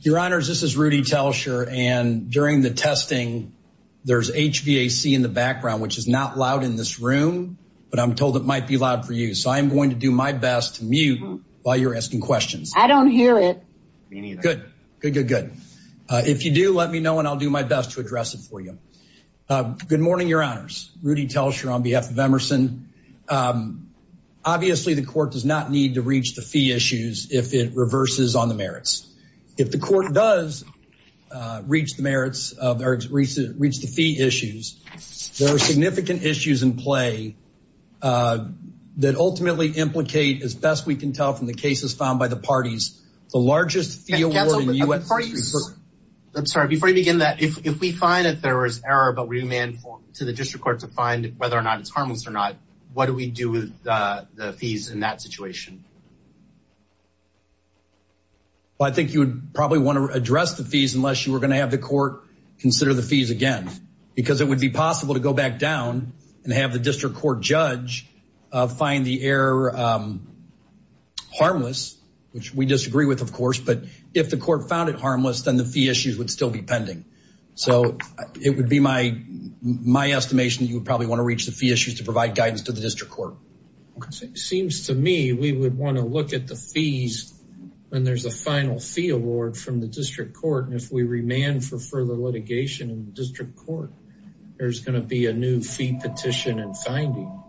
Your Honors, this is Rudy Telscher. And during the testing, there's HVAC in the background, which is not loud in this room, but I'm told it might be loud for you. So I'm going to do my best to mute while you're asking questions. I don't hear it. Good, good, good, good. If you do, let me know, and I'll do my best to address it for you. Good morning, Your Honors. Rudy Telscher on behalf of Emerson. Obviously, the court does not need to reach the fee issues if it reverses on the merits. If the court does reach the merits, or reach the fee issues, there are significant issues in play that ultimately implicate, as best we can tell from the cases found by the parties, the largest fee award in U.S. history. I'm sorry, before you begin that, if we find that there is error, but we demand to the district court to find whether or not it's harmless or not, what do we do with the fees in that situation? Well, I think you would probably want to address the fees unless you were going to have the court consider the fees again, because it would be possible to go back down and have the district court judge find the error harmless, which we disagree with, of course, but if the court found it harmless, then the fee issues would still be pending. So it would be my estimation that you would probably want to reach the fee issues to provide guidance to the district court. Because it seems to me we would want to look at the fees when there's a final fee award from the district court, and if we remand for further litigation in the district court there's going to be a new fee petition and finding.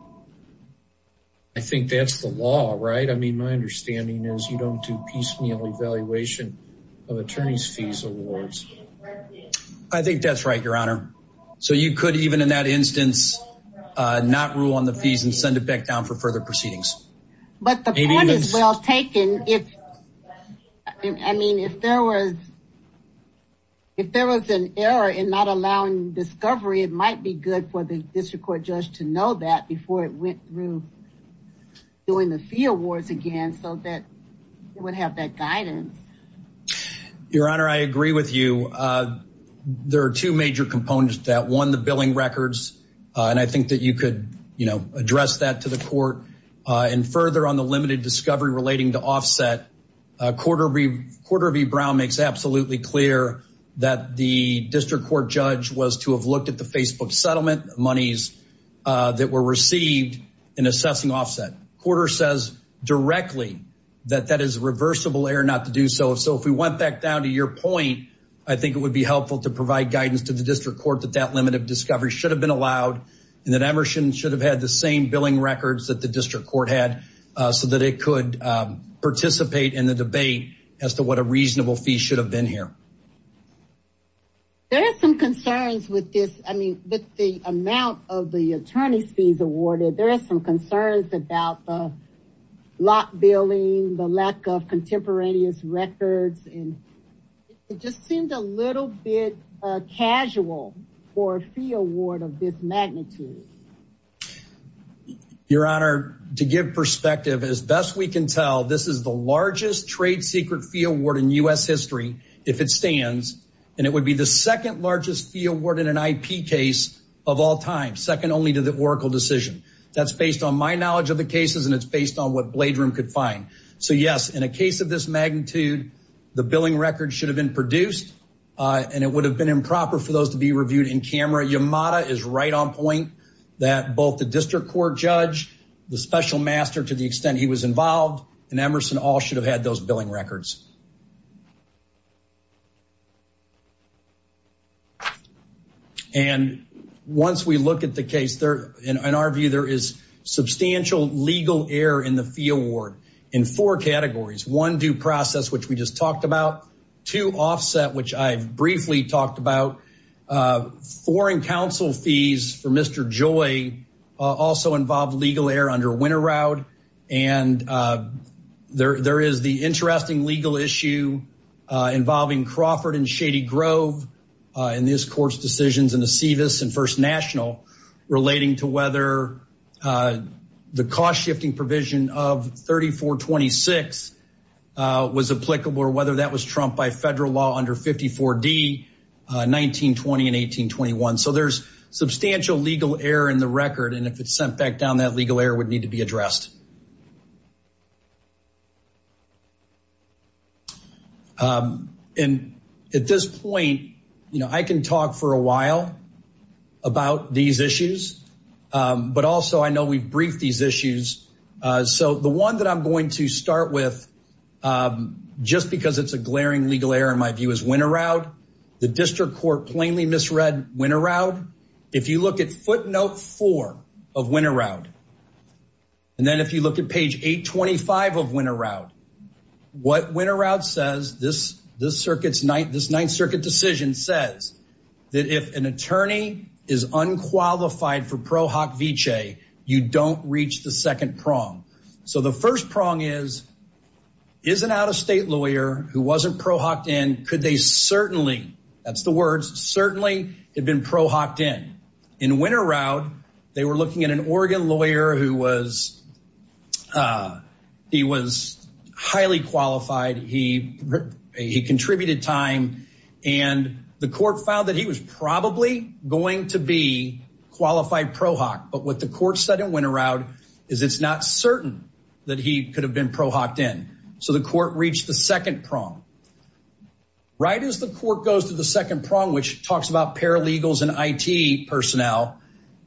I think that's the law, right? I mean, my understanding is you don't do piecemeal evaluation of attorney's fees awards. I think that's right, Your Honor. So you could, even in that instance, not rule on the fees and send it back down for further proceedings. But the point is well taken. I mean, if there was an error in not allowing discovery, it might be good for the district court judge to know that before it went through doing the fee awards again so that it would have that guidance. Your Honor, I agree with you. There are two major components to that. One, the billing records. And I think that you could address that to the court. And further on the limited discovery relating to offset, Court of E Brown makes absolutely clear that the district court judge was to have looked at the Facebook settlement monies that were received in assessing offset. Quarter says directly that that is reversible error not to do so. So if we went back down to your point, I think it would be helpful to provide guidance to the district court that that limit of discovery should have been allowed and that Emerson should have had the same billing records that the district court had so that it could participate in the debate as to what a reasonable fee should have been here. There are some concerns with this. I mean, with the amount of the attorney's fees awarded, there are some concerns about the lot billing, the lack of contemporaneous records. And it just seems a little bit casual for a fee award of this magnitude. Your Honor, to give perspective, as best we can tell, this is the largest trade secret fee award in U.S. history if it stands, and it would be the second largest fee award in an IP case of all time, second only to the Oracle decision. That's based on my knowledge of the cases and it's based on what Blade Room could find. So yes, in a case of this magnitude, the billing records should have been produced and it would have been improper for those to be reviewed in camera. Yamada is right on point that both the district court judge, the special master to the extent he was involved and Emerson all should have had those billing records. And once we look at the case, in our view, there is substantial legal error in the fee award in four categories. One, due process, which we just talked about. Two, offset, which I've briefly talked about. Foreign counsel fees for Mr. Joy also involve legal error under Winter Raud. And there is the interesting legal issue involving Crawford and Shady Grove in this court's decisions in the SEVIS and First National relating to whether the cost shifting provision of 3426 was applicable or whether that was trumped by federal law under 54D, 1920 and 1821. So there's substantial legal error in the record and if it's sent back down, that legal error would need to be addressed. And at this point, I can talk for a while about these issues, but also I know we've briefed these issues. So the one that I'm going to start with, just because it's a glaring legal error in my view is Winter Raud. The district court plainly misread Winter Raud. If you look at footnote four of Winter Raud, and then if you look at page 825 of Winter Raud, what Winter Raud says, this Ninth Circuit decision says that if an attorney is unqualified for Pro Hoc Vitae, you don't reach the second prong. So the first prong is, is an out-of-state lawyer who wasn't Pro Hoc'd in, could they certainly, that's the words, certainly had been Pro Hoc'd in. In Winter Raud, they were looking at an Oregon lawyer who was highly qualified, he contributed time and the court found that he was probably going to be Pro Hoc'd in. So what the court said in Winter Raud is it's not certain that he could have been Pro Hoc'd in. So the court reached the second prong. Right as the court goes to the second prong, which talks about paralegals and IT personnel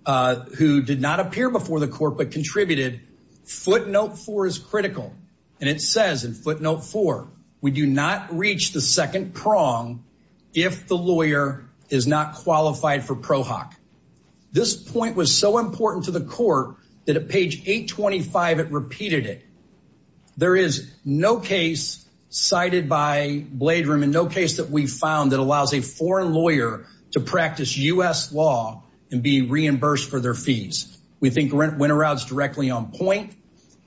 who did not appear before the court but contributed, footnote four is critical. And it says in footnote four, we do not reach the second prong if the lawyer is not qualified for Pro Hoc. This point was so important to the court that at page 825 it repeated it. There is no case cited by Blade Room and no case that we found that allows a foreign lawyer to practice US law and be reimbursed for their fees. We think Winter Raud's directly on point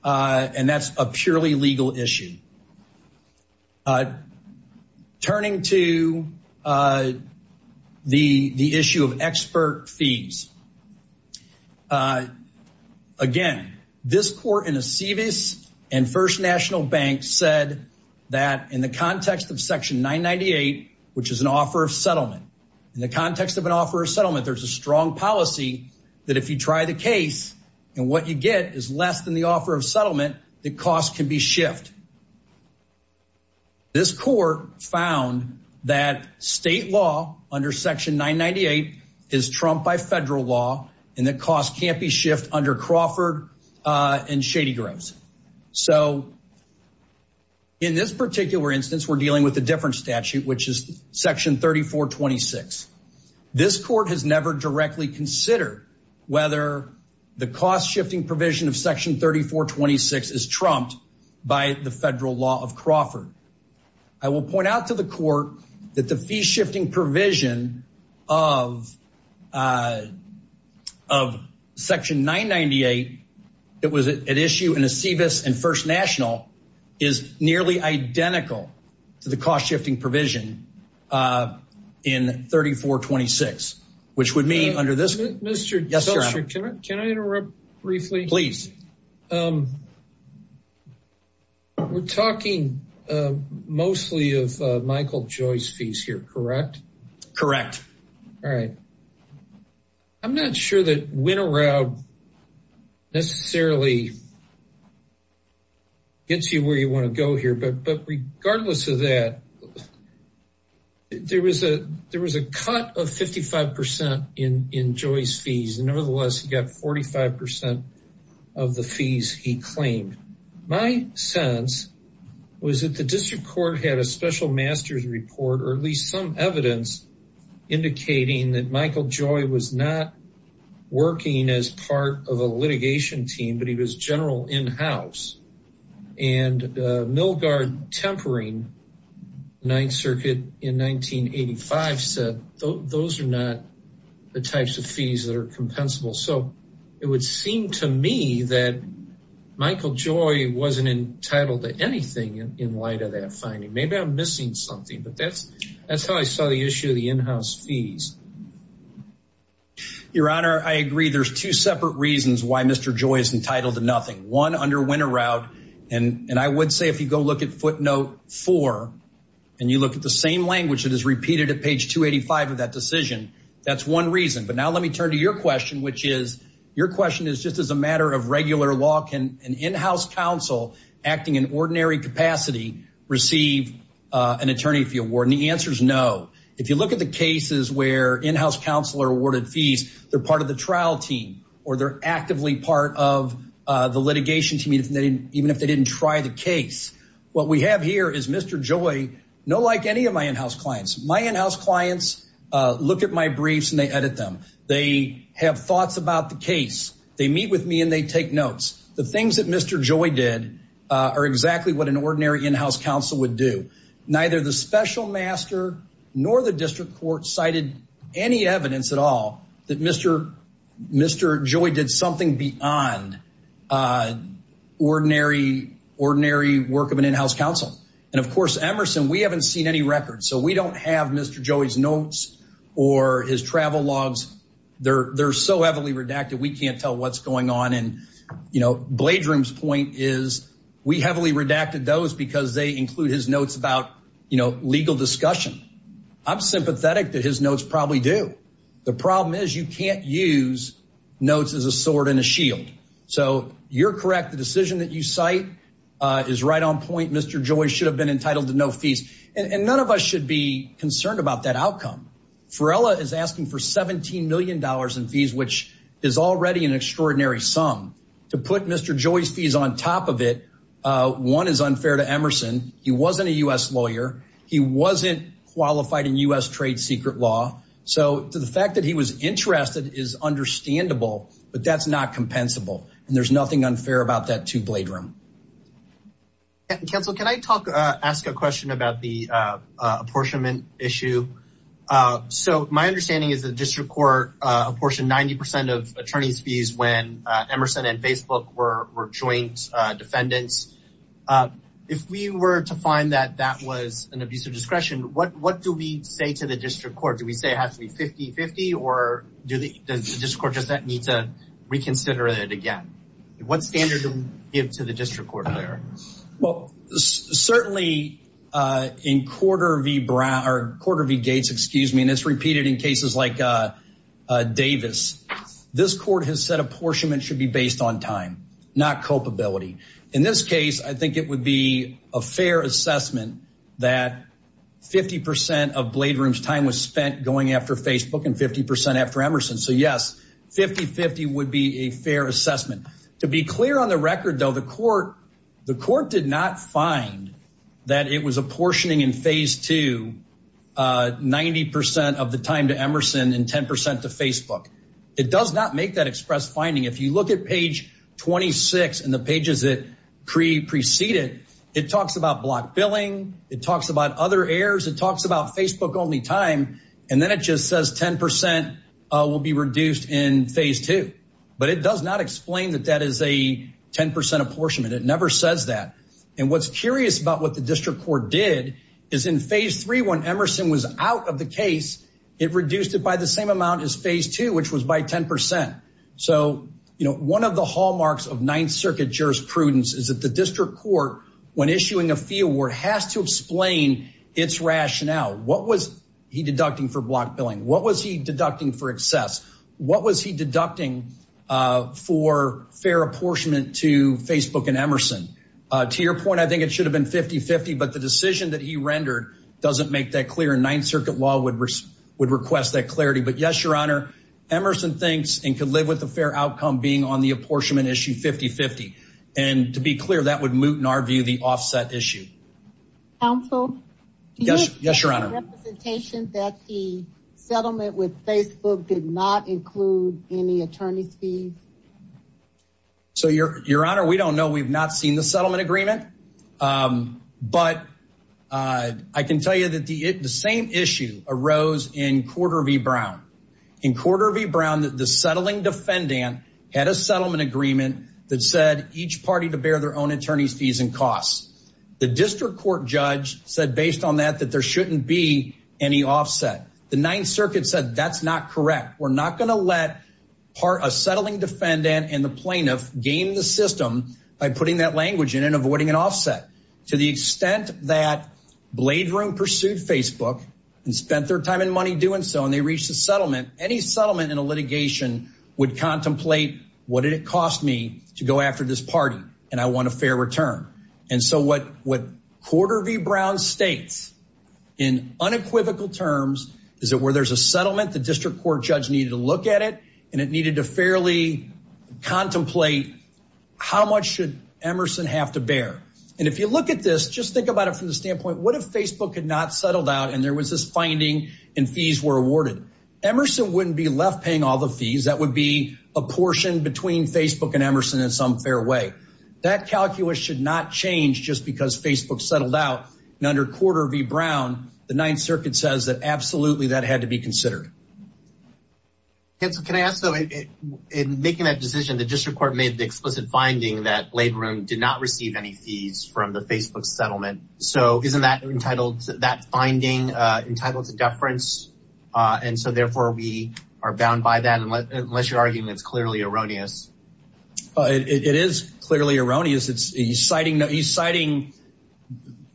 and that's a purely legal issue. Turning to the issue of expert fees. Again, this court in Aceves and First National Bank said that in the context of section 998, which is an offer of settlement, in the context of an offer of settlement, there's a strong policy that if you try the case and what you get is less than the offer of settlement, the cost can be shift. This court found that state law under section 998 is trumped by federal law and the cost can't be shift under Crawford and Shady Grows. So in this particular instance, we're dealing with a different statute, which is section 3426. This court has never directly considered whether the cost shifting provision of section 3426 is trumped by the federal law of Crawford. I will point out to the court that the fee shifting provision of section 998 that was at issue in Aceves and First National is nearly identical to the cost shifting provision in 3426, which would mean under this- Mr. Solster, can I interrupt briefly? Please. We're talking mostly of Michael Joy's fees here, correct? Correct. All right. I'm not sure that Winter Raub necessarily gets you where you want to go here, but regardless of that, there was a cut of 55% in Joy's fees, nevertheless, he got 45% of the fees he claimed. My sense was that the district court had a special master's report, or at least some evidence indicating that Michael Joy was not working as part of a litigation team, but he was general in-house. And Milgard Tempering, Ninth Circuit in 1985, said those are not the types of fees that are compensable. So it would seem to me that Michael Joy wasn't entitled to anything in light of that finding. Maybe I'm missing something, but that's how I saw the issue of the in-house fees. Your Honor, I agree. There's two separate reasons why Mr. Joy is entitled to nothing. One, under Winter Raub, and I would say if you go look at footnote four and you look at the same language that is repeated at page 285 of that decision, that's one reason. But now let me turn to your question, your question is just as a matter of regular law, can an in-house counsel acting in ordinary capacity receive an attorney fee award? And the answer's no. If you look at the cases where in-house counselor awarded fees, they're part of the trial team or they're actively part of the litigation team even if they didn't try the case. What we have here is Mr. Joy, no like any of my in-house clients. My in-house clients look at my briefs and they edit them. They have thoughts about the case. They meet with me and they take notes. The things that Mr. Joy did are exactly what an ordinary in-house counsel would do. Neither the special master nor the district court cited any evidence at all that Mr. Joy did something beyond ordinary work of an in-house counsel. And of course, Emerson, we haven't seen any records. So we don't have Mr. Joy's notes or his travel logs. They're so heavily redacted, we can't tell what's going on. And Bladrum's point is we heavily redacted those because they include his notes about legal discussion. I'm sympathetic that his notes probably do. The problem is you can't use notes as a sword and a shield. So you're correct. The decision that you cite is right on point. Mr. Joy should have been entitled to no fees. And none of us should be concerned about that outcome. Ferrella is asking for $17 million in fees, which is already an extraordinary sum. To put Mr. Joy's fees on top of it, one is unfair to Emerson. He wasn't a U.S. lawyer. He wasn't qualified in U.S. trade secret law. So the fact that he was interested is understandable, but that's not compensable. And there's nothing unfair about that to Bladrum. Council, can I ask a question about the apportionment issue? So my understanding is the district court apportioned 90% of attorney's fees when Emerson and Facebook were joint defendants. If we were to find that that was an abuse of discretion, what do we say to the district court? Do we say it has to be 50-50? Or does the district court just need to reconsider it again? What standard do we give to the district court? Well, certainly in Corder v. Gates, and it's repeated in cases like Davis, this court has said apportionment should be based on time, not culpability. In this case, I think it would be a fair assessment that 50% of Bladrum's time was spent going after Facebook and 50% after Emerson. So yes, 50-50 would be a fair assessment. To be clear on the record, though, the court did not find that it was apportioning in phase two 90% of the time to Emerson and 10% to Facebook. It does not make that express finding. If you look at page 26 and the pages that precede it, it talks about block billing. It talks about other errors. It talks about Facebook-only time. And then it just says 10% will be reduced in phase two. But it does not explain that that is a 10% apportionment. It never says that. And what's curious about what the district court did is in phase three, when Emerson was out of the case, it reduced it by the same amount as phase two, which was by 10%. So one of the hallmarks of Ninth Circuit jurisprudence is that the district court, when issuing a fee award, has to explain its rationale. What was he deducting for block billing? What was he deducting for excess? What was he deducting for fair apportionment to Facebook and Emerson? To your point, I think it should have been 50-50, but the decision that he rendered doesn't make that clear. Ninth Circuit law would request that clarity. But yes, Your Honor, Emerson thinks and could live with the fair outcome being on the apportionment issue 50-50. And to be clear, that would moot, in our view, the offset issue. Counsel? Yes, Your Honor. Do you think the representation that the settlement with Facebook did not include any attorney's fees? So, Your Honor, we don't know. We've not seen the settlement agreement. But I can tell you that the same issue arose in Corder of E. Brown. In Corder of E. Brown, the settling defendant had a settlement agreement that said each party to bear their own attorney's fees and costs. The district court judge said, based on that, that there shouldn't be any offset. The Ninth Circuit said, that's not correct. We're not gonna let a settling defendant and the plaintiff game the system by putting that language in and avoiding an offset. To the extent that Blade Room pursued Facebook and spent their time and money doing so and they reached a settlement, any settlement in a litigation would contemplate, what did it cost me to go after this party and I want a fair return? And so what Corder of E. Brown states in unequivocal terms is that where there's a settlement, the district court judge needed to look at it and it needed to fairly contemplate how much should Emerson have to bear. And if you look at this, just think about it from the standpoint, what if Facebook had not settled out and there was this finding and fees were awarded? Emerson wouldn't be left paying all the fees. That would be a portion between Facebook and Emerson in some fair way. That calculus should not change just because Facebook settled out and under Corder of E. Brown, the Ninth Circuit says that absolutely that had to be considered. Can I ask though, in making that decision, the district court made the explicit finding that Blade Room did not receive any fees from the Facebook settlement. So isn't that finding entitled to deference? And so therefore we are bound by that unless your argument is clearly erroneous. It is clearly erroneous. It's a citing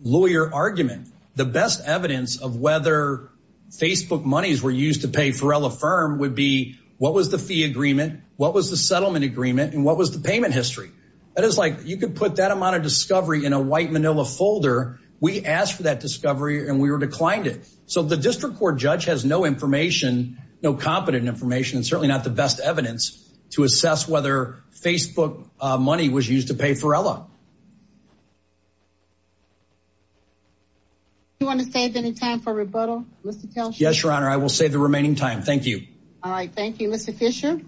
lawyer argument. The best evidence of whether Facebook monies were used to pay Pharrell Affirm would be what was the fee agreement? What was the settlement agreement? And what was the payment history? That is like, you could put that amount of discovery in a white manila folder. We asked for that discovery and we were declined it. So the district court judge has no information, no competent information, and certainly not the best evidence to assess whether Facebook money was used to pay Pharrell. You wanna save any time for rebuttal, Mr. Telsher? Yes, Your Honor, I will save the remaining time. Thank you. All right, thank you. Mr. Fisher.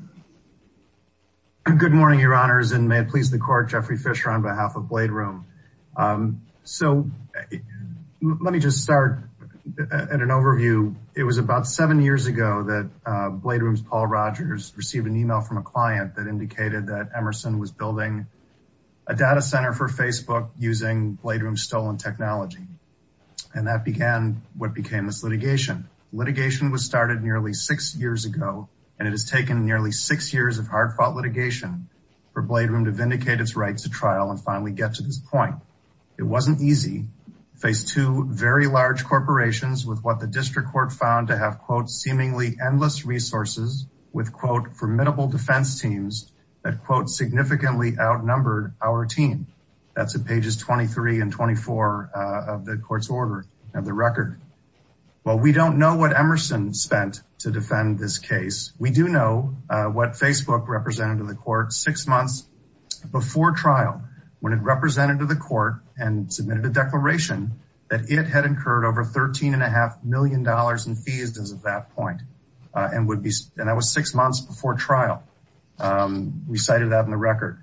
Good morning, Your Honors, and may it please the court, Jeffrey Fisher on behalf of Blade Room. So let me just start at an overview. It was about seven years ago that Blade Room's Paul Rogers received an email from a client that indicated that Emerson was building a data center for Facebook using Blade Room's stolen technology. And that began what became this litigation. Litigation was started nearly six years ago, and it has taken nearly six years of hard-fought litigation for Blade Room to vindicate its rights to trial and finally get to this point. It wasn't easy, faced two very large corporations with what the district court found to have, quote, seemingly endless resources with, quote, formidable defense teams that, quote, significantly outnumbered our team. That's at pages 23 and 24 of the court's order of the record. Well, we don't know what Emerson spent to defend this case. We do know what Facebook represented to the court six months before trial, when it represented to the court and submitted a declaration that it had incurred over $13.5 million in fees as of that point. And that was six months before trial. We cited that in the record.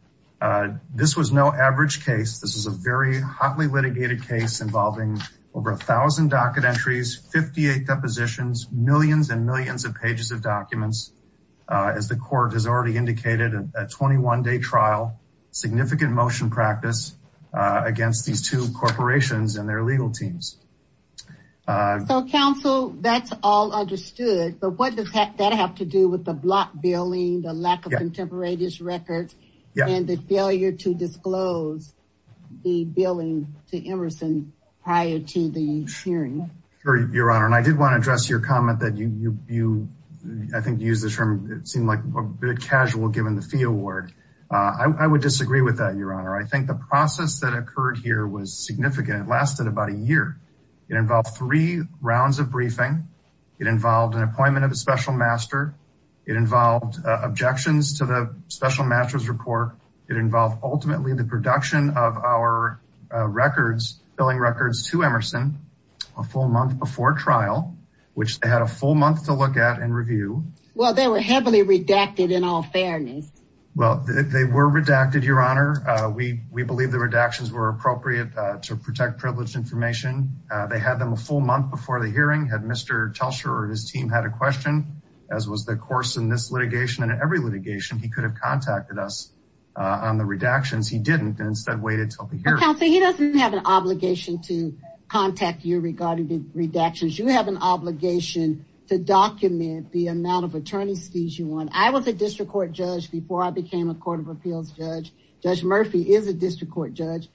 This was no average case. This was a very hotly litigated case involving over 1,000 docket entries, 58 depositions, millions and millions of pages of documents. As the court has already indicated, a 21-day trial, significant motion practice against these two corporations and their legal teams. So, counsel, that's all understood. But what does that have to do with the block billing, the lack of contemporaneous records, and the failure to disclose the billing to Emerson prior to the hearing? Sure, Your Honor. And I did want to address your comment that you, I think you used the term, it seemed like a bit casual given the fee award. I would disagree with that, Your Honor. I think the process that occurred here was significant. It lasted about a year. It involved three rounds of briefing. It involved an appointment of a special master. It involved objections to the special master's report. It involved ultimately the production of our records, billing records to Emerson a full month before trial, which they had a full month to look at and review. Well, they were heavily redacted in all fairness. Well, they were redacted, Your Honor. We believe the redactions were appropriate to protect privileged information. They had them a full month before the hearing. Had Mr. Telcher or his team had a question, as was the course in this litigation and every litigation, he could have contacted us on the redactions. He didn't and instead waited till the hearing. Counsel, he doesn't have an obligation to contact you regarding the redactions. You have an obligation to document the amount of attorney's fees you want. I was a district court judge before I became a court of appeals judge. Judge Murphy is a district court judge.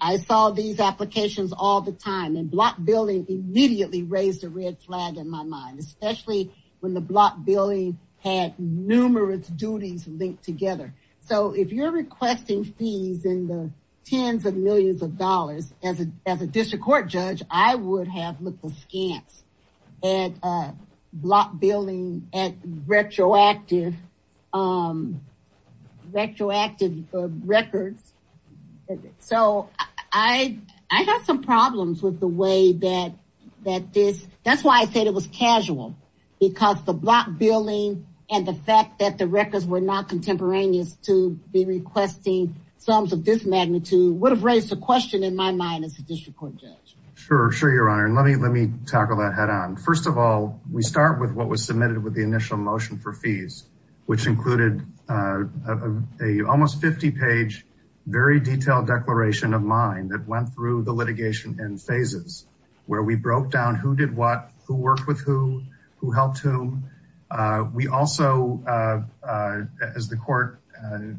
I saw these applications all the time and block billing immediately raised a red flag in my mind, especially when the block billing had numerous duties linked together. So if you're requesting fees in the tens of millions of dollars as a district court judge, I would have looked scant at block billing at retroactive records. So I had some problems with the way that this, that's why I said it was casual because the block billing and the fact that the records were not contemporaneous to be requesting sums of this magnitude would have raised a question in my mind as a district court judge. Sure, sure, your honor. And let me tackle that head on. First of all, we start with what was submitted with the initial motion for fees, which included a almost 50 page, very detailed declaration of mine that went through the litigation in phases where we broke down who did what, who worked with who, who helped whom. We also, as the court,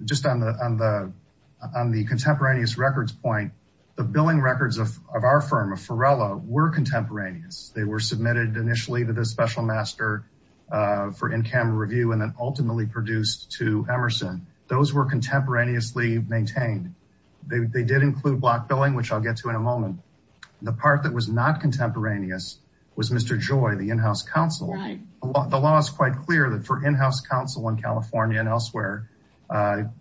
just on the contemporaneous records point, the billing records of our firm, of Ferrella were contemporaneous. They were submitted initially to the special master for in-camera review, and then ultimately produced to Emerson. Those were contemporaneously maintained. They did include block billing, which I'll get to in a moment. The part that was not contemporaneous was Mr. Joy, the in-house counsel. The law is quite clear that for in-house counsel in California and elsewhere,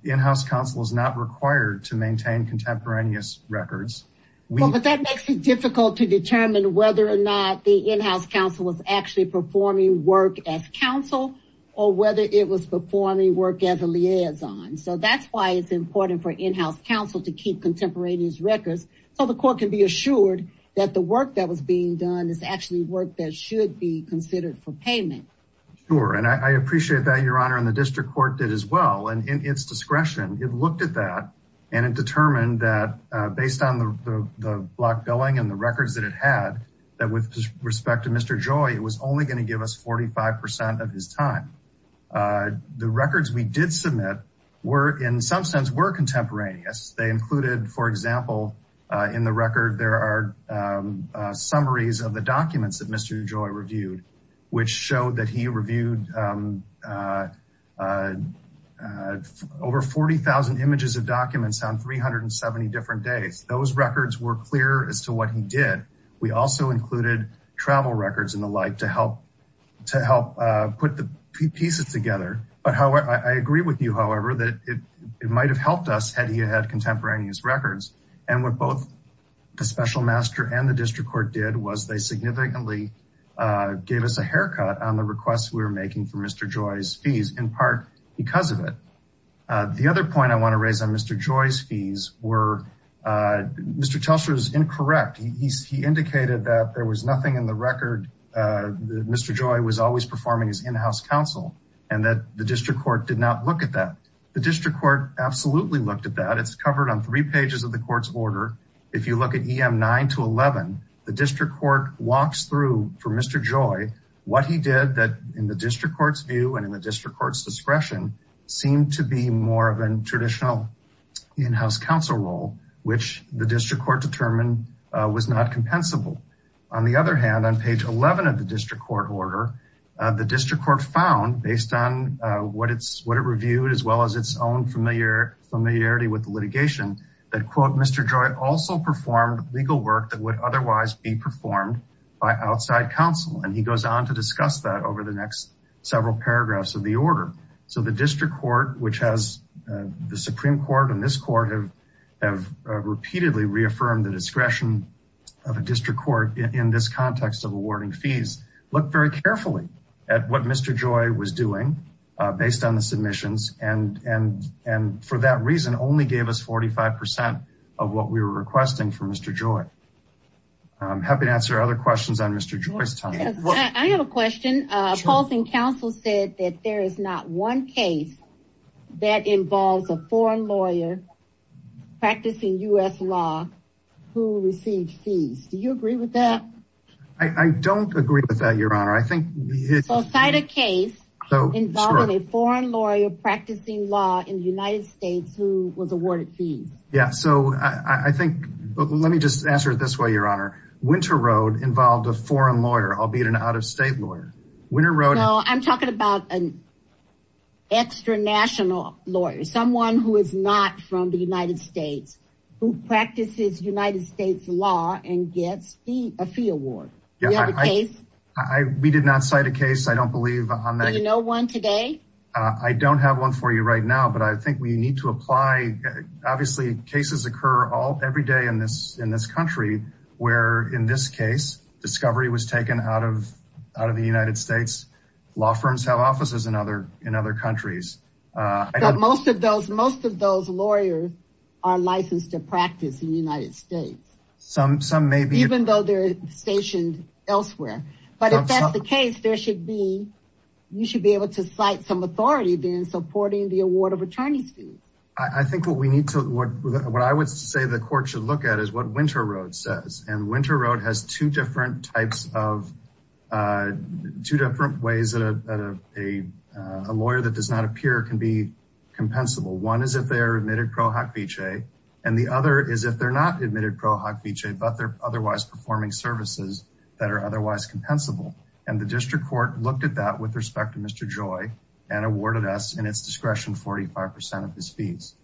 in-house counsel is not required to maintain contemporaneous records. Well, but that makes it difficult to determine whether or not the in-house counsel was actually performing work as counsel, or whether it was performing work as a liaison. So that's why it's important for in-house counsel to keep contemporaneous records so the court can be assured that the work that was being done is actually work that should be considered for payment. Sure, and I appreciate that, Your Honor, and the district court did as well. And in its discretion, it looked at that and it determined that based on the block billing and the records that it had, that with respect to Mr. Joy, it was only gonna give us 45% of his time. The records we did submit were, in some sense, were contemporaneous. They included, for example, in the record, there are summaries of the documents that Mr. Joy reviewed, which showed that he reviewed over 40,000 images of documents on 370 different days. Those records were clear as to what he did. We also included travel records and the like to help put the pieces together. But I agree with you, however, that it might have helped us had he had contemporaneous records. And what both the special master and the district court did was they significantly gave us a haircut on the requests we were making for Mr. Joy's fees, in part because of it. The other point I wanna raise on Mr. Joy's fees were, Mr. Telstra's incorrect. He indicated that there was nothing in the record, that Mr. Joy was always performing his in-house counsel, and that the district court did not look at that. The district court absolutely looked at that. It's covered on three pages of the court's order. If you look at EM 9 to 11, the district court walks through for Mr. Joy what he did that, in the district court's view and in the district court's discretion, seemed to be more of a traditional in-house counsel role, which the district court determined was not compensable. On the other hand, on page 11 of the district court order, the district court found, based on what it reviewed, as well as its own familiarity with the litigation, that, quote, Mr. Joy also performed legal work that would otherwise be performed by outside counsel. And he goes on to discuss that over the next several paragraphs of the order. So the district court, which has the Supreme Court and this court have repeatedly reaffirmed the discretion of a district court in this context of awarding fees, looked very carefully at what Mr. Joy was doing based on the submissions, and for that reason, only gave us 45% of what we were requesting for Mr. Joy. I'm happy to answer other questions on Mr. Joy's time. I have a question. Opposing counsel said that there is not one case that involves a foreign lawyer practicing U.S. law who received fees. Do you agree with that? I don't agree with that, Your Honor. I think- So cite a case involving a foreign lawyer practicing law in the United States who was awarded fees. Yeah, so I think, let me just answer it this way, Your Honor. Winter Road involved a foreign lawyer, albeit an out-of-state lawyer. Winter Road- I'm talking about an extra-national lawyer, someone who is not from the United States who practices United States law and gets a fee award. Do you have a case? We did not cite a case. I don't believe on that- Do you know one today? I don't have one for you right now, but I think we need to apply. Obviously, cases occur every day in this country where, in this case, discovery was taken out of the United States. Law firms have offices in other countries. But most of those lawyers are licensed to practice in the United States. Some may be- Even though they're stationed elsewhere. But if that's the case, there should be, you should be able to cite some authority then supporting the award of attorney's fees. I think what we need to, what I would say the court should look at is what Winter Road says. And Winter Road has two different types of, two different ways that a lawyer that does not appear can be compensable. One is if they are admitted pro hoc vichae, and the other is if they're not admitted pro hoc vichae, but they're otherwise performing services that are otherwise compensable. And the district court looked at that with respect to Mr. Joy and awarded us, in its discretion, 45% of his fees.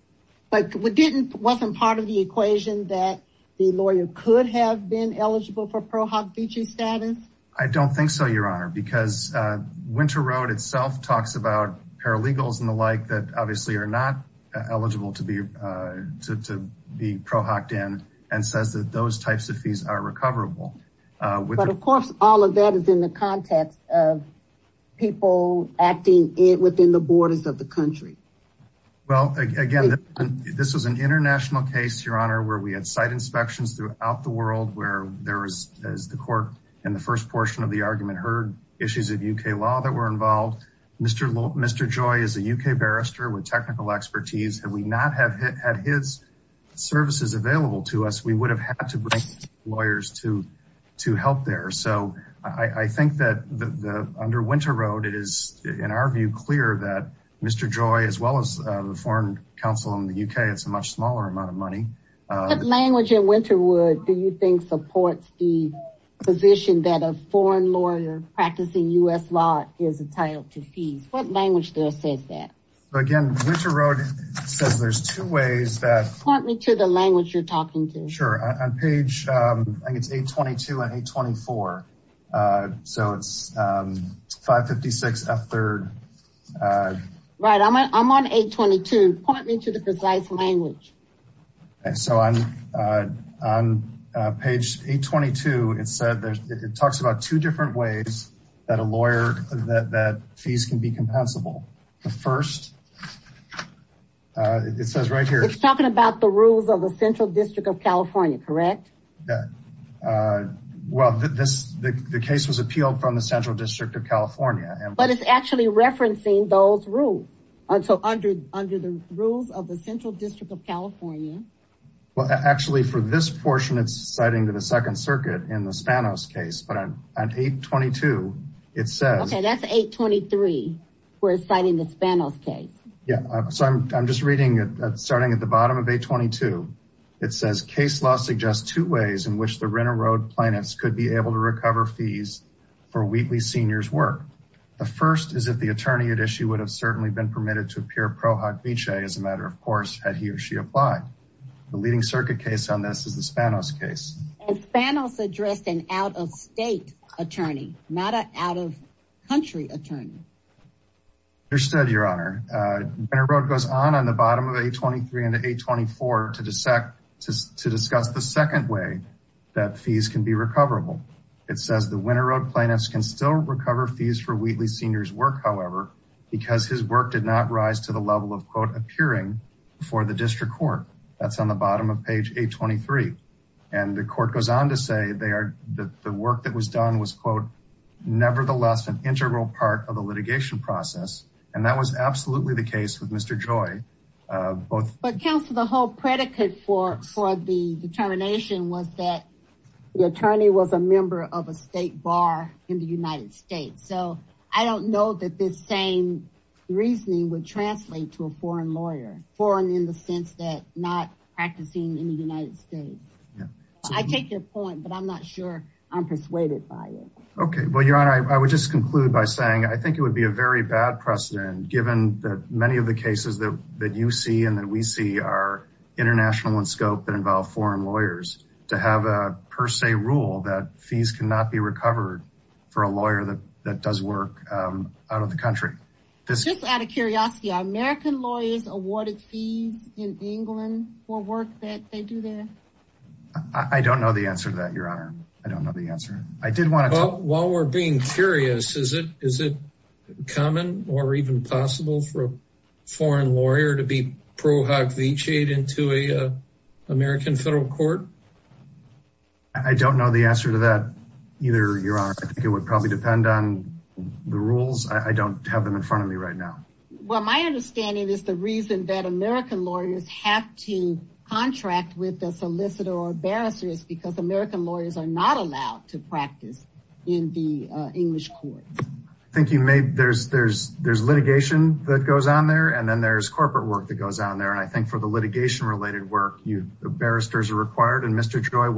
But wasn't part of the equation that the lawyer could have been eligible for pro hoc vichae status? I don't think so, Your Honor, because Winter Road itself talks about paralegals and the like that obviously are not eligible to be pro hoc'd in and says that those types of fees are recoverable. But of course, all of that is in the context of people acting within the borders of the country. Well, again, this was an international case, Your Honor, where we had site inspections throughout the world, where there was, as the court in the first portion of the argument heard, issues of UK law that were involved. Mr. Joy is a UK barrister with technical expertise. Had we not had his services available to us, we would have had to bring lawyers to help there. So I think that under Winter Road, it is, in our view, clear that Mr. Joy, as well as the Foreign Council in the UK, it's a much smaller amount of money. What language in Winter Road do you think supports the position that a foreign lawyer practicing US law is entitled to fees? What language does it say that? Again, Winter Road says there's two ways that- Point me to the language you're talking to. Sure, on page, I think it's 822 and 824. So it's 556 F3rd. Right, I'm on 822. Point me to the precise language. So on page 822, it talks about two different ways that a lawyer, that fees can be compensable. The first, it says right here- It's talking about the rules of the Central District of California, correct? Well, the case was appealed from the Central District of California. But it's actually referencing those rules. So under the rules of the Central District of California. Well, actually for this portion, it's citing to the Second Circuit in the Spanos case. But on 822, it says- Okay, that's 823, where it's citing the Spanos case. Yeah, so I'm just reading it, starting at the bottom of 822. It says, case law suggests two ways in which the Winter Road plaintiffs could be able to recover fees for Wheatley Senior's work. The first is if the attorney at issue would have certainly been permitted to appear pro hoc vice as a matter of course, had he or she applied. The leading circuit case on this is the Spanos case. And Spanos addressed an out of state attorney, not an out of country attorney. Understood, Your Honor. Winter Road goes on on the bottom of 823 and 824 to discuss the second way that fees can be recoverable. It says the Winter Road plaintiffs can still recover fees for Wheatley Senior's work, however, because his work did not rise to the level of, quote, appearing before the district court. That's on the bottom of page 823. And the court goes on to say that the work that was done was, quote, nevertheless an integral part of the litigation process. And that was absolutely the case with Mr. Joy. But counsel, the whole predicate for the determination was that the attorney was a member of a state bar in the United States. So I don't know that this same reasoning would translate to a foreign lawyer, foreign in the sense that not practicing in the United States. I take your point, but I'm not sure I'm persuaded by it. Okay, well, Your Honor, I would just conclude by saying, I think it would be a very bad precedent, given that many of the cases that you see and that we see are international in scope that involve foreign lawyers, to have a per se rule that fees cannot be recovered for a lawyer that does work out of the country. This- Just out of curiosity, are American lawyers awarded fees in England for work that they do there? I don't know the answer to that, Your Honor. I don't know the answer. I did want to- Well, while we're being curious, is it common or even possible for a foreign lawyer to be pro-hag vichied into a American federal court? I don't know the answer to that, either, Your Honor. I think it would probably depend on the rules. I don't have them in front of me right now. Well, my understanding is the reason that American lawyers have to contract with a solicitor or a barrister is because American lawyers are not allowed to practice in the English courts. I think you may- There's litigation that goes on there, and then there's corporate work that goes on there. And I think for the litigation-related work, the barristers are required, and Mr. Joy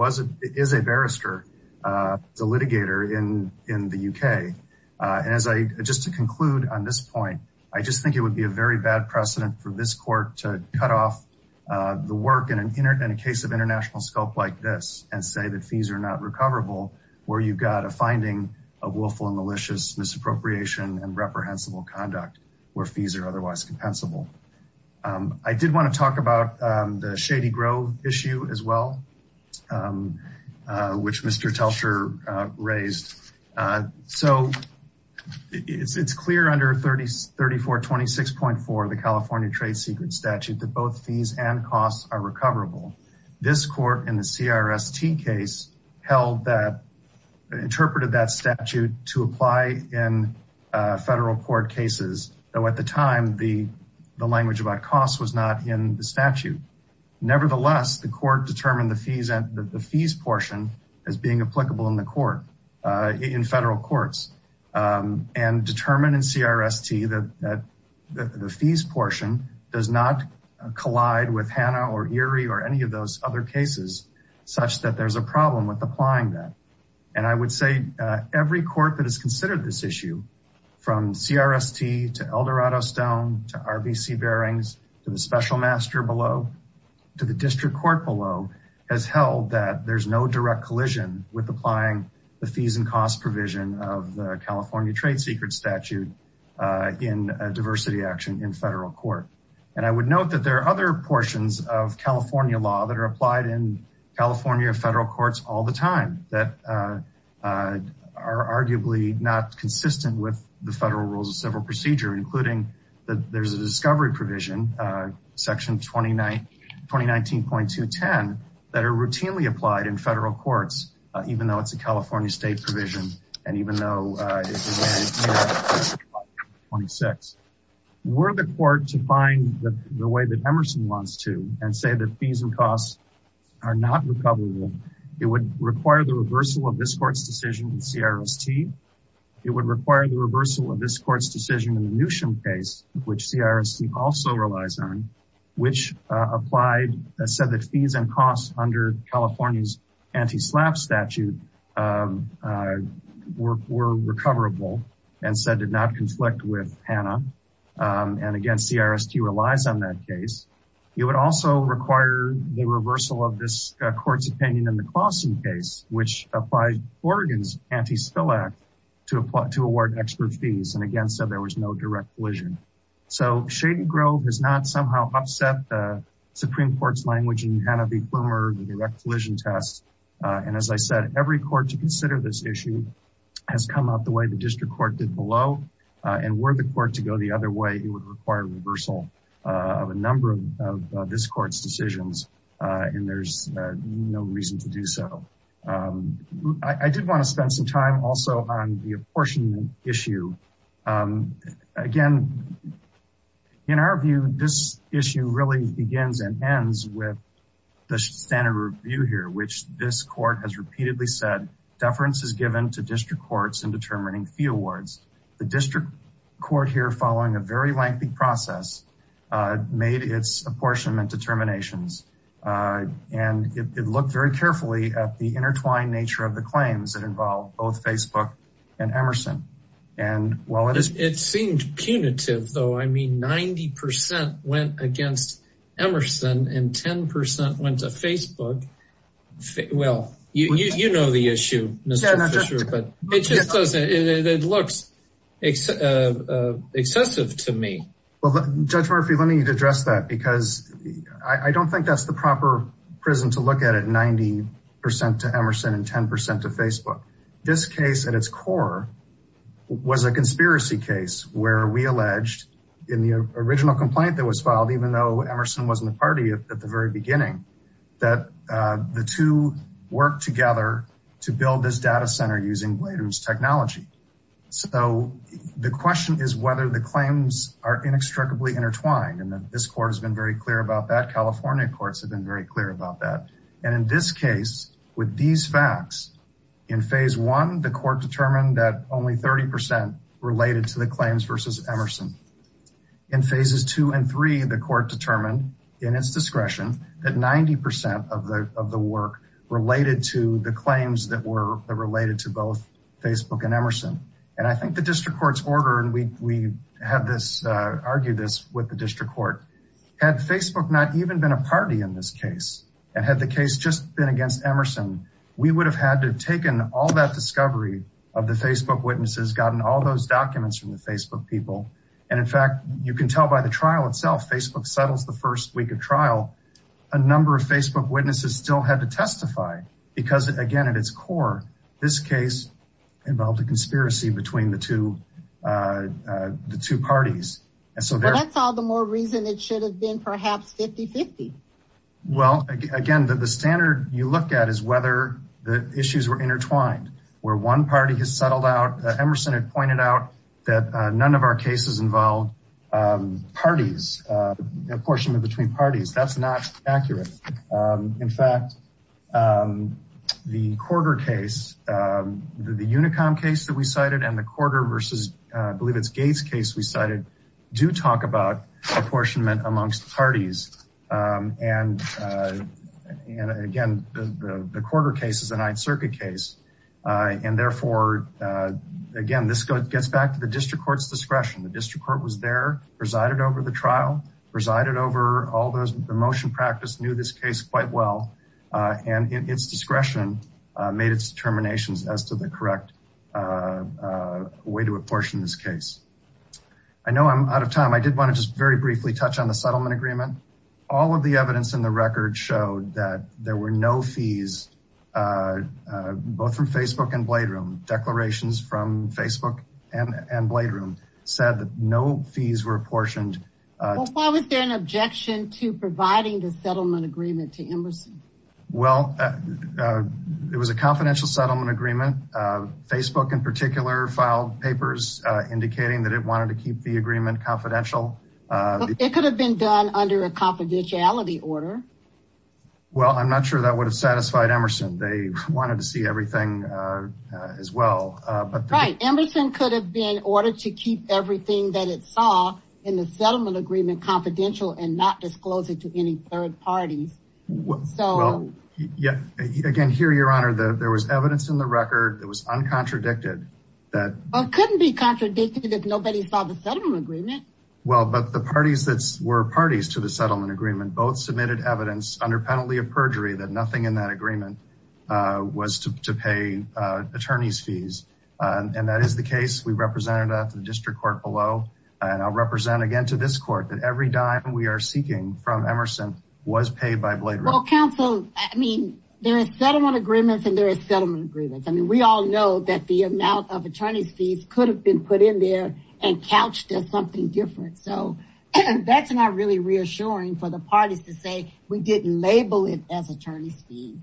is a barrister, a litigator in the UK. And just to conclude on this point, I just think it would be a very bad precedent for this court to cut off the work in a case of international scope like this and say that fees are not recoverable where you've got a finding of willful and malicious misappropriation and reprehensible conduct where fees are otherwise compensable. I did want to talk about the Shady Grove issue as well, which Mr. Telcher raised. So it's clear under 3426.4, the California Trade Secret Statute, that both fees and costs are recoverable. This court in the CRST case interpreted that statute to apply in federal court cases. Though at the time, the language about costs was not in the statute. Nevertheless, the court determined the fees portion as being applicable in the court, in federal courts, and determined in CRST that the fees portion does not collide with HANA or ERIE or any of those other cases, such that there's a problem with applying that. And I would say every court that has considered this issue, from CRST to Eldorado Stone, to RBC Bearings, to the Special Master below, to the District Court below, has held that there's no direct collision with applying the fees and costs provision of the California Trade Secret Statute in a diversity action in federal court. And I would note that there are other portions of California law that are applied in California federal courts all the time that are arguably not consistent with the federal rules of civil procedure, including that there's a discovery provision, section 2019.210, that are routinely applied in federal courts, even though it's a California state provision, and even though it's in the 26. Were the court to find the way that Emerson wants to and say that fees and costs are not recoverable, it would require the reversal of this court's decision in CRST. It would require the reversal of this court's decision in the Newsham case, which CRST also relies on, which said that fees and costs under California's anti-SLAPP statute were recoverable, and said did not conflict with HANA. And again, CRST relies on that case. It would also require the reversal of this court's opinion in the Claussen case, which applied Oregon's anti-SLAPP to award extra fees, and again, said there was no direct collision. So Shady Grove has not somehow upset the Supreme Court's language in HANA v. Flumer, the direct collision test. And as I said, every court to consider this issue has come up the way the district court did below, and were the court to go the other way, it would require reversal of a number of this court's decisions, and there's no reason to do so. I did wanna spend some time also on the apportionment issue. Again, in our view, this issue really begins and ends with the standard review here, which this court has repeatedly said, deference is given to district courts in determining fee awards. The district court here, following a very lengthy process, made its apportionment determinations, and it looked very carefully at the intertwined nature of the claims that involve both Facebook and Emerson. And while it is- It seemed punitive, though. I mean, 90% went against Emerson and 10% went to Facebook. Well, you know the issue, Mr. Fisher, but it just doesn't, it looks excessive to me. Well, Judge Murphy, let me address that, because I don't think that's the proper prison to look at it, 90% to Emerson and 10% to Facebook. This case, at its core, was a conspiracy case where we alleged, in the original complaint that was filed, even though Emerson wasn't a party at the very beginning, that the two worked together to build this data center using Blader's technology. So the question is whether the claims are inextricably intertwined, and this court has been very clear about that. California courts have been very clear about that. And in this case, with these facts, in phase one, the court determined that only 30% related to the claims versus Emerson. In phases two and three, the court determined, in its discretion, that 90% of the work related to the claims that were related to both Facebook and Emerson. And I think the district court's order, and we argued this with the district court, had Facebook not even been a party in this case, and had the case just been against Emerson, we would have had to have taken all that discovery of the Facebook witnesses, gotten all those documents from the Facebook people. And in fact, you can tell by the trial itself, Facebook settles the first week of trial, a number of Facebook witnesses still had to testify, because, again, at its core, this case involved a conspiracy between the two parties. And so there- Well, that's all the more reason it should have been perhaps 50-50. Well, again, the standard you look at is whether the issues were intertwined. Where one party has settled out, Emerson had pointed out that none of our cases involved parties, apportionment between parties. That's not accurate. In fact, the Corder case, the Unicom case that we cited, and the Corder versus, I believe it's Gates case we cited, do talk about apportionment amongst parties. And, again, the Corder case is a Ninth Circuit case. And therefore, again, this gets back to the district court's discretion. The district court was there, presided over the trial, presided over all the motion practice, knew this case quite well. And its discretion made its determinations as to the correct way to apportion this case. I know I'm out of time. I did want to just very briefly touch on the settlement agreement. All of the evidence in the record showed that there were no fees, both from Facebook and Blade Room. Declarations from Facebook and Blade Room said that no fees were apportioned. Why was there an objection to providing the settlement agreement to Emerson? Well, it was a confidential settlement agreement. Facebook, in particular, filed papers indicating that it wanted to keep the agreement confidential. It could have been done under a confidentiality order. Well, I'm not sure that would have satisfied Emerson. They wanted to see everything as well. Right, Emerson could have been ordered to keep everything that it saw in the settlement agreement confidential and not disclose it to any third parties. Again, here, Your Honor, there was evidence in the record that was uncontradicted. Well, it couldn't be contradicted if nobody saw the settlement agreement. Well, but the parties that were parties to the settlement agreement both submitted evidence under penalty of perjury that nothing in that agreement was to pay attorney's fees. And that is the case. We represented that to the district court below. And I'll represent again to this court that every dime we are seeking from Emerson was paid by Blade Rail. Well, counsel, I mean, there is settlement agreements and there is settlement agreements. I mean, we all know that the amount of attorney's fees could have been put in there and couched as something different. So that's not really reassuring for the parties to say, we didn't label it as attorney's fees.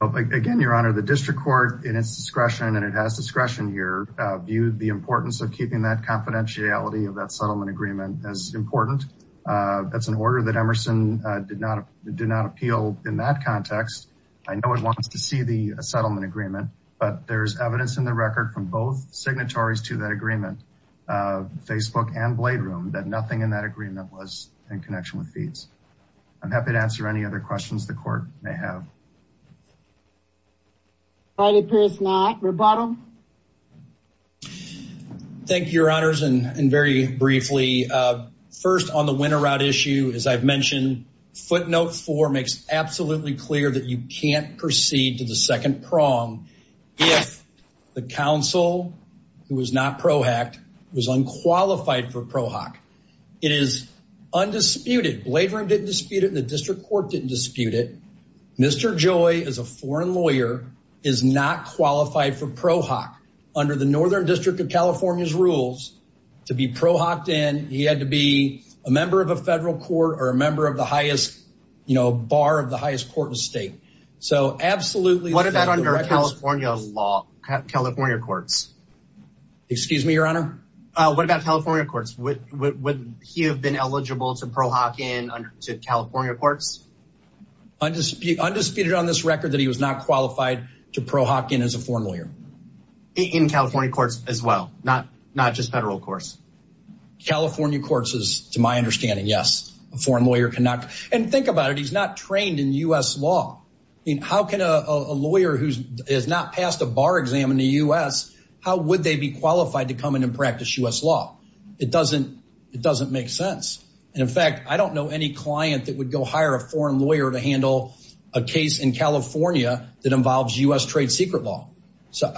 Well, again, Your Honor, the district court in its discretion, and it has discretion here, viewed the importance of keeping that confidentiality of that settlement agreement as important. That's an order that Emerson did not appeal in that context. I know it wants to see the settlement agreement, but there's evidence in the record from both signatories to that agreement, Facebook and Blade Room, that nothing in that agreement was in connection with fees. I'm happy to answer any other questions the court may have. All right, it appears not, rebuttal. Thank you, Your Honors, and very briefly, first on the winter route issue, as I've mentioned, footnote four makes absolutely clear that you can't proceed to the second prong if the counsel who was not PROHAC was unqualified for PROHAC. It is undisputed, Blade Room didn't dispute it, the district court didn't dispute it. Mr. Joy, as a foreign lawyer, is not qualified for PROHAC under the Northern District of California's rules. To be PROHACed in, he had to be a member of a federal court or a member of the highest, you know, a bar of the highest court in the state. So absolutely- What about under California law, California courts? Excuse me, Your Honor? What about California courts? Would he have been eligible to PROHAC in under, to California courts? Undisputed on this record that he was not qualified to PROHAC in as a foreign lawyer. In California courts as well, not just federal courts. California courts is, to my understanding, yes. A foreign lawyer cannot, and think about it, he's not trained in U.S. law. I mean, how can a lawyer who has not passed a bar exam in the U.S., how would they be qualified to come in and practice U.S. law? It doesn't make sense. And in fact, I don't know any client that would go hire a foreign lawyer to handle a case in California that involves U.S. trade secret law. So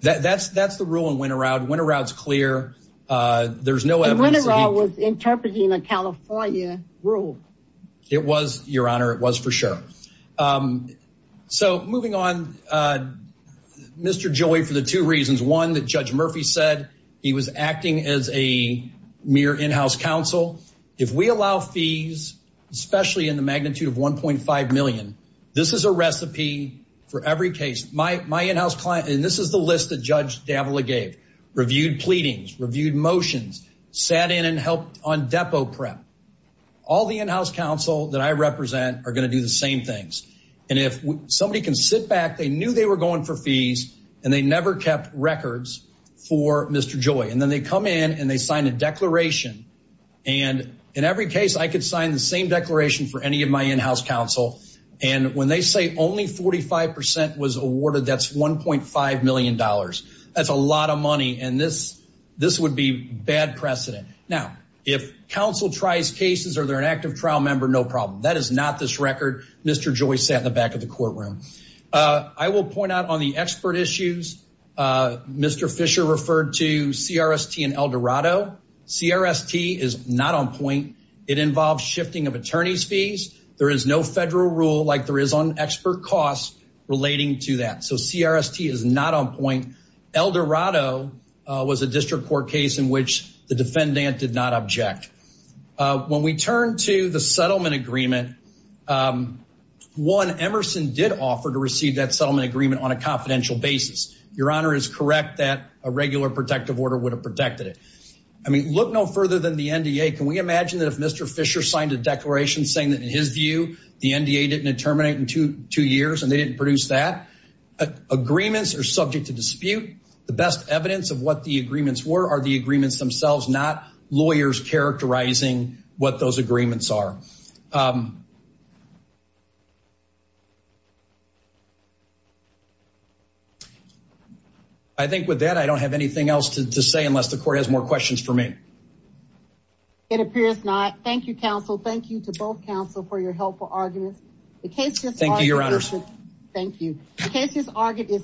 that's the rule in Winterowd. Winterowd's clear. There's no evidence- And Winterowd was interpreting a California rule. It was, Your Honor, it was for sure. So moving on, Mr. Joy, for the two reasons. One, that Judge Murphy said he was acting as a mere in-house counsel. If we allow fees, especially in the magnitude of 1.5 million, this is a recipe for every case. My in-house client, and this is the list that Judge Davila gave, reviewed pleadings, reviewed motions, sat in and helped on depo prep. All the in-house counsel that I represent are gonna do the same things. And if somebody can sit back, they knew they were going for fees, and they never kept records for Mr. Joy. And then they come in and they sign a declaration and in every case I could sign the same declaration for any of my in-house counsel. And when they say only 45% was awarded, that's $1.5 million. That's a lot of money. And this would be bad precedent. Now, if counsel tries cases or they're an active trial member, no problem. That is not this record. Mr. Joy sat in the back of the courtroom. I will point out on the expert issues, Mr. Fisher referred to CRST and Eldorado. CRST is not on point. It involves shifting of attorney's fees. There is no federal rule like there is on expert costs relating to that. So CRST is not on point. Eldorado was a district court case in which the defendant did not object. When we turn to the settlement agreement, one, Emerson did offer to receive that settlement agreement on a confidential basis. Your honor is correct that a regular protective order would have protected it. I mean, look no further than the NDA. Can we imagine that if Mr. Fisher signed a declaration saying that in his view, the NDA didn't terminate in two years and they didn't produce that? Agreements are subject to dispute. The best evidence of what the agreements were are the agreements themselves, not lawyers characterizing what those agreements are. I think with that, I don't have anything else to say unless the court has more questions for me. It appears not. Thank you, counsel. Thank you to both counsel for your helpful arguments. Thank you, your honors. Thank you. The case is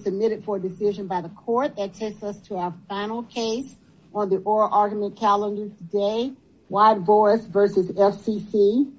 submitted for decision by the court that takes us to our final case on the oral argument calendar today, Wyatt-Boris versus FCC.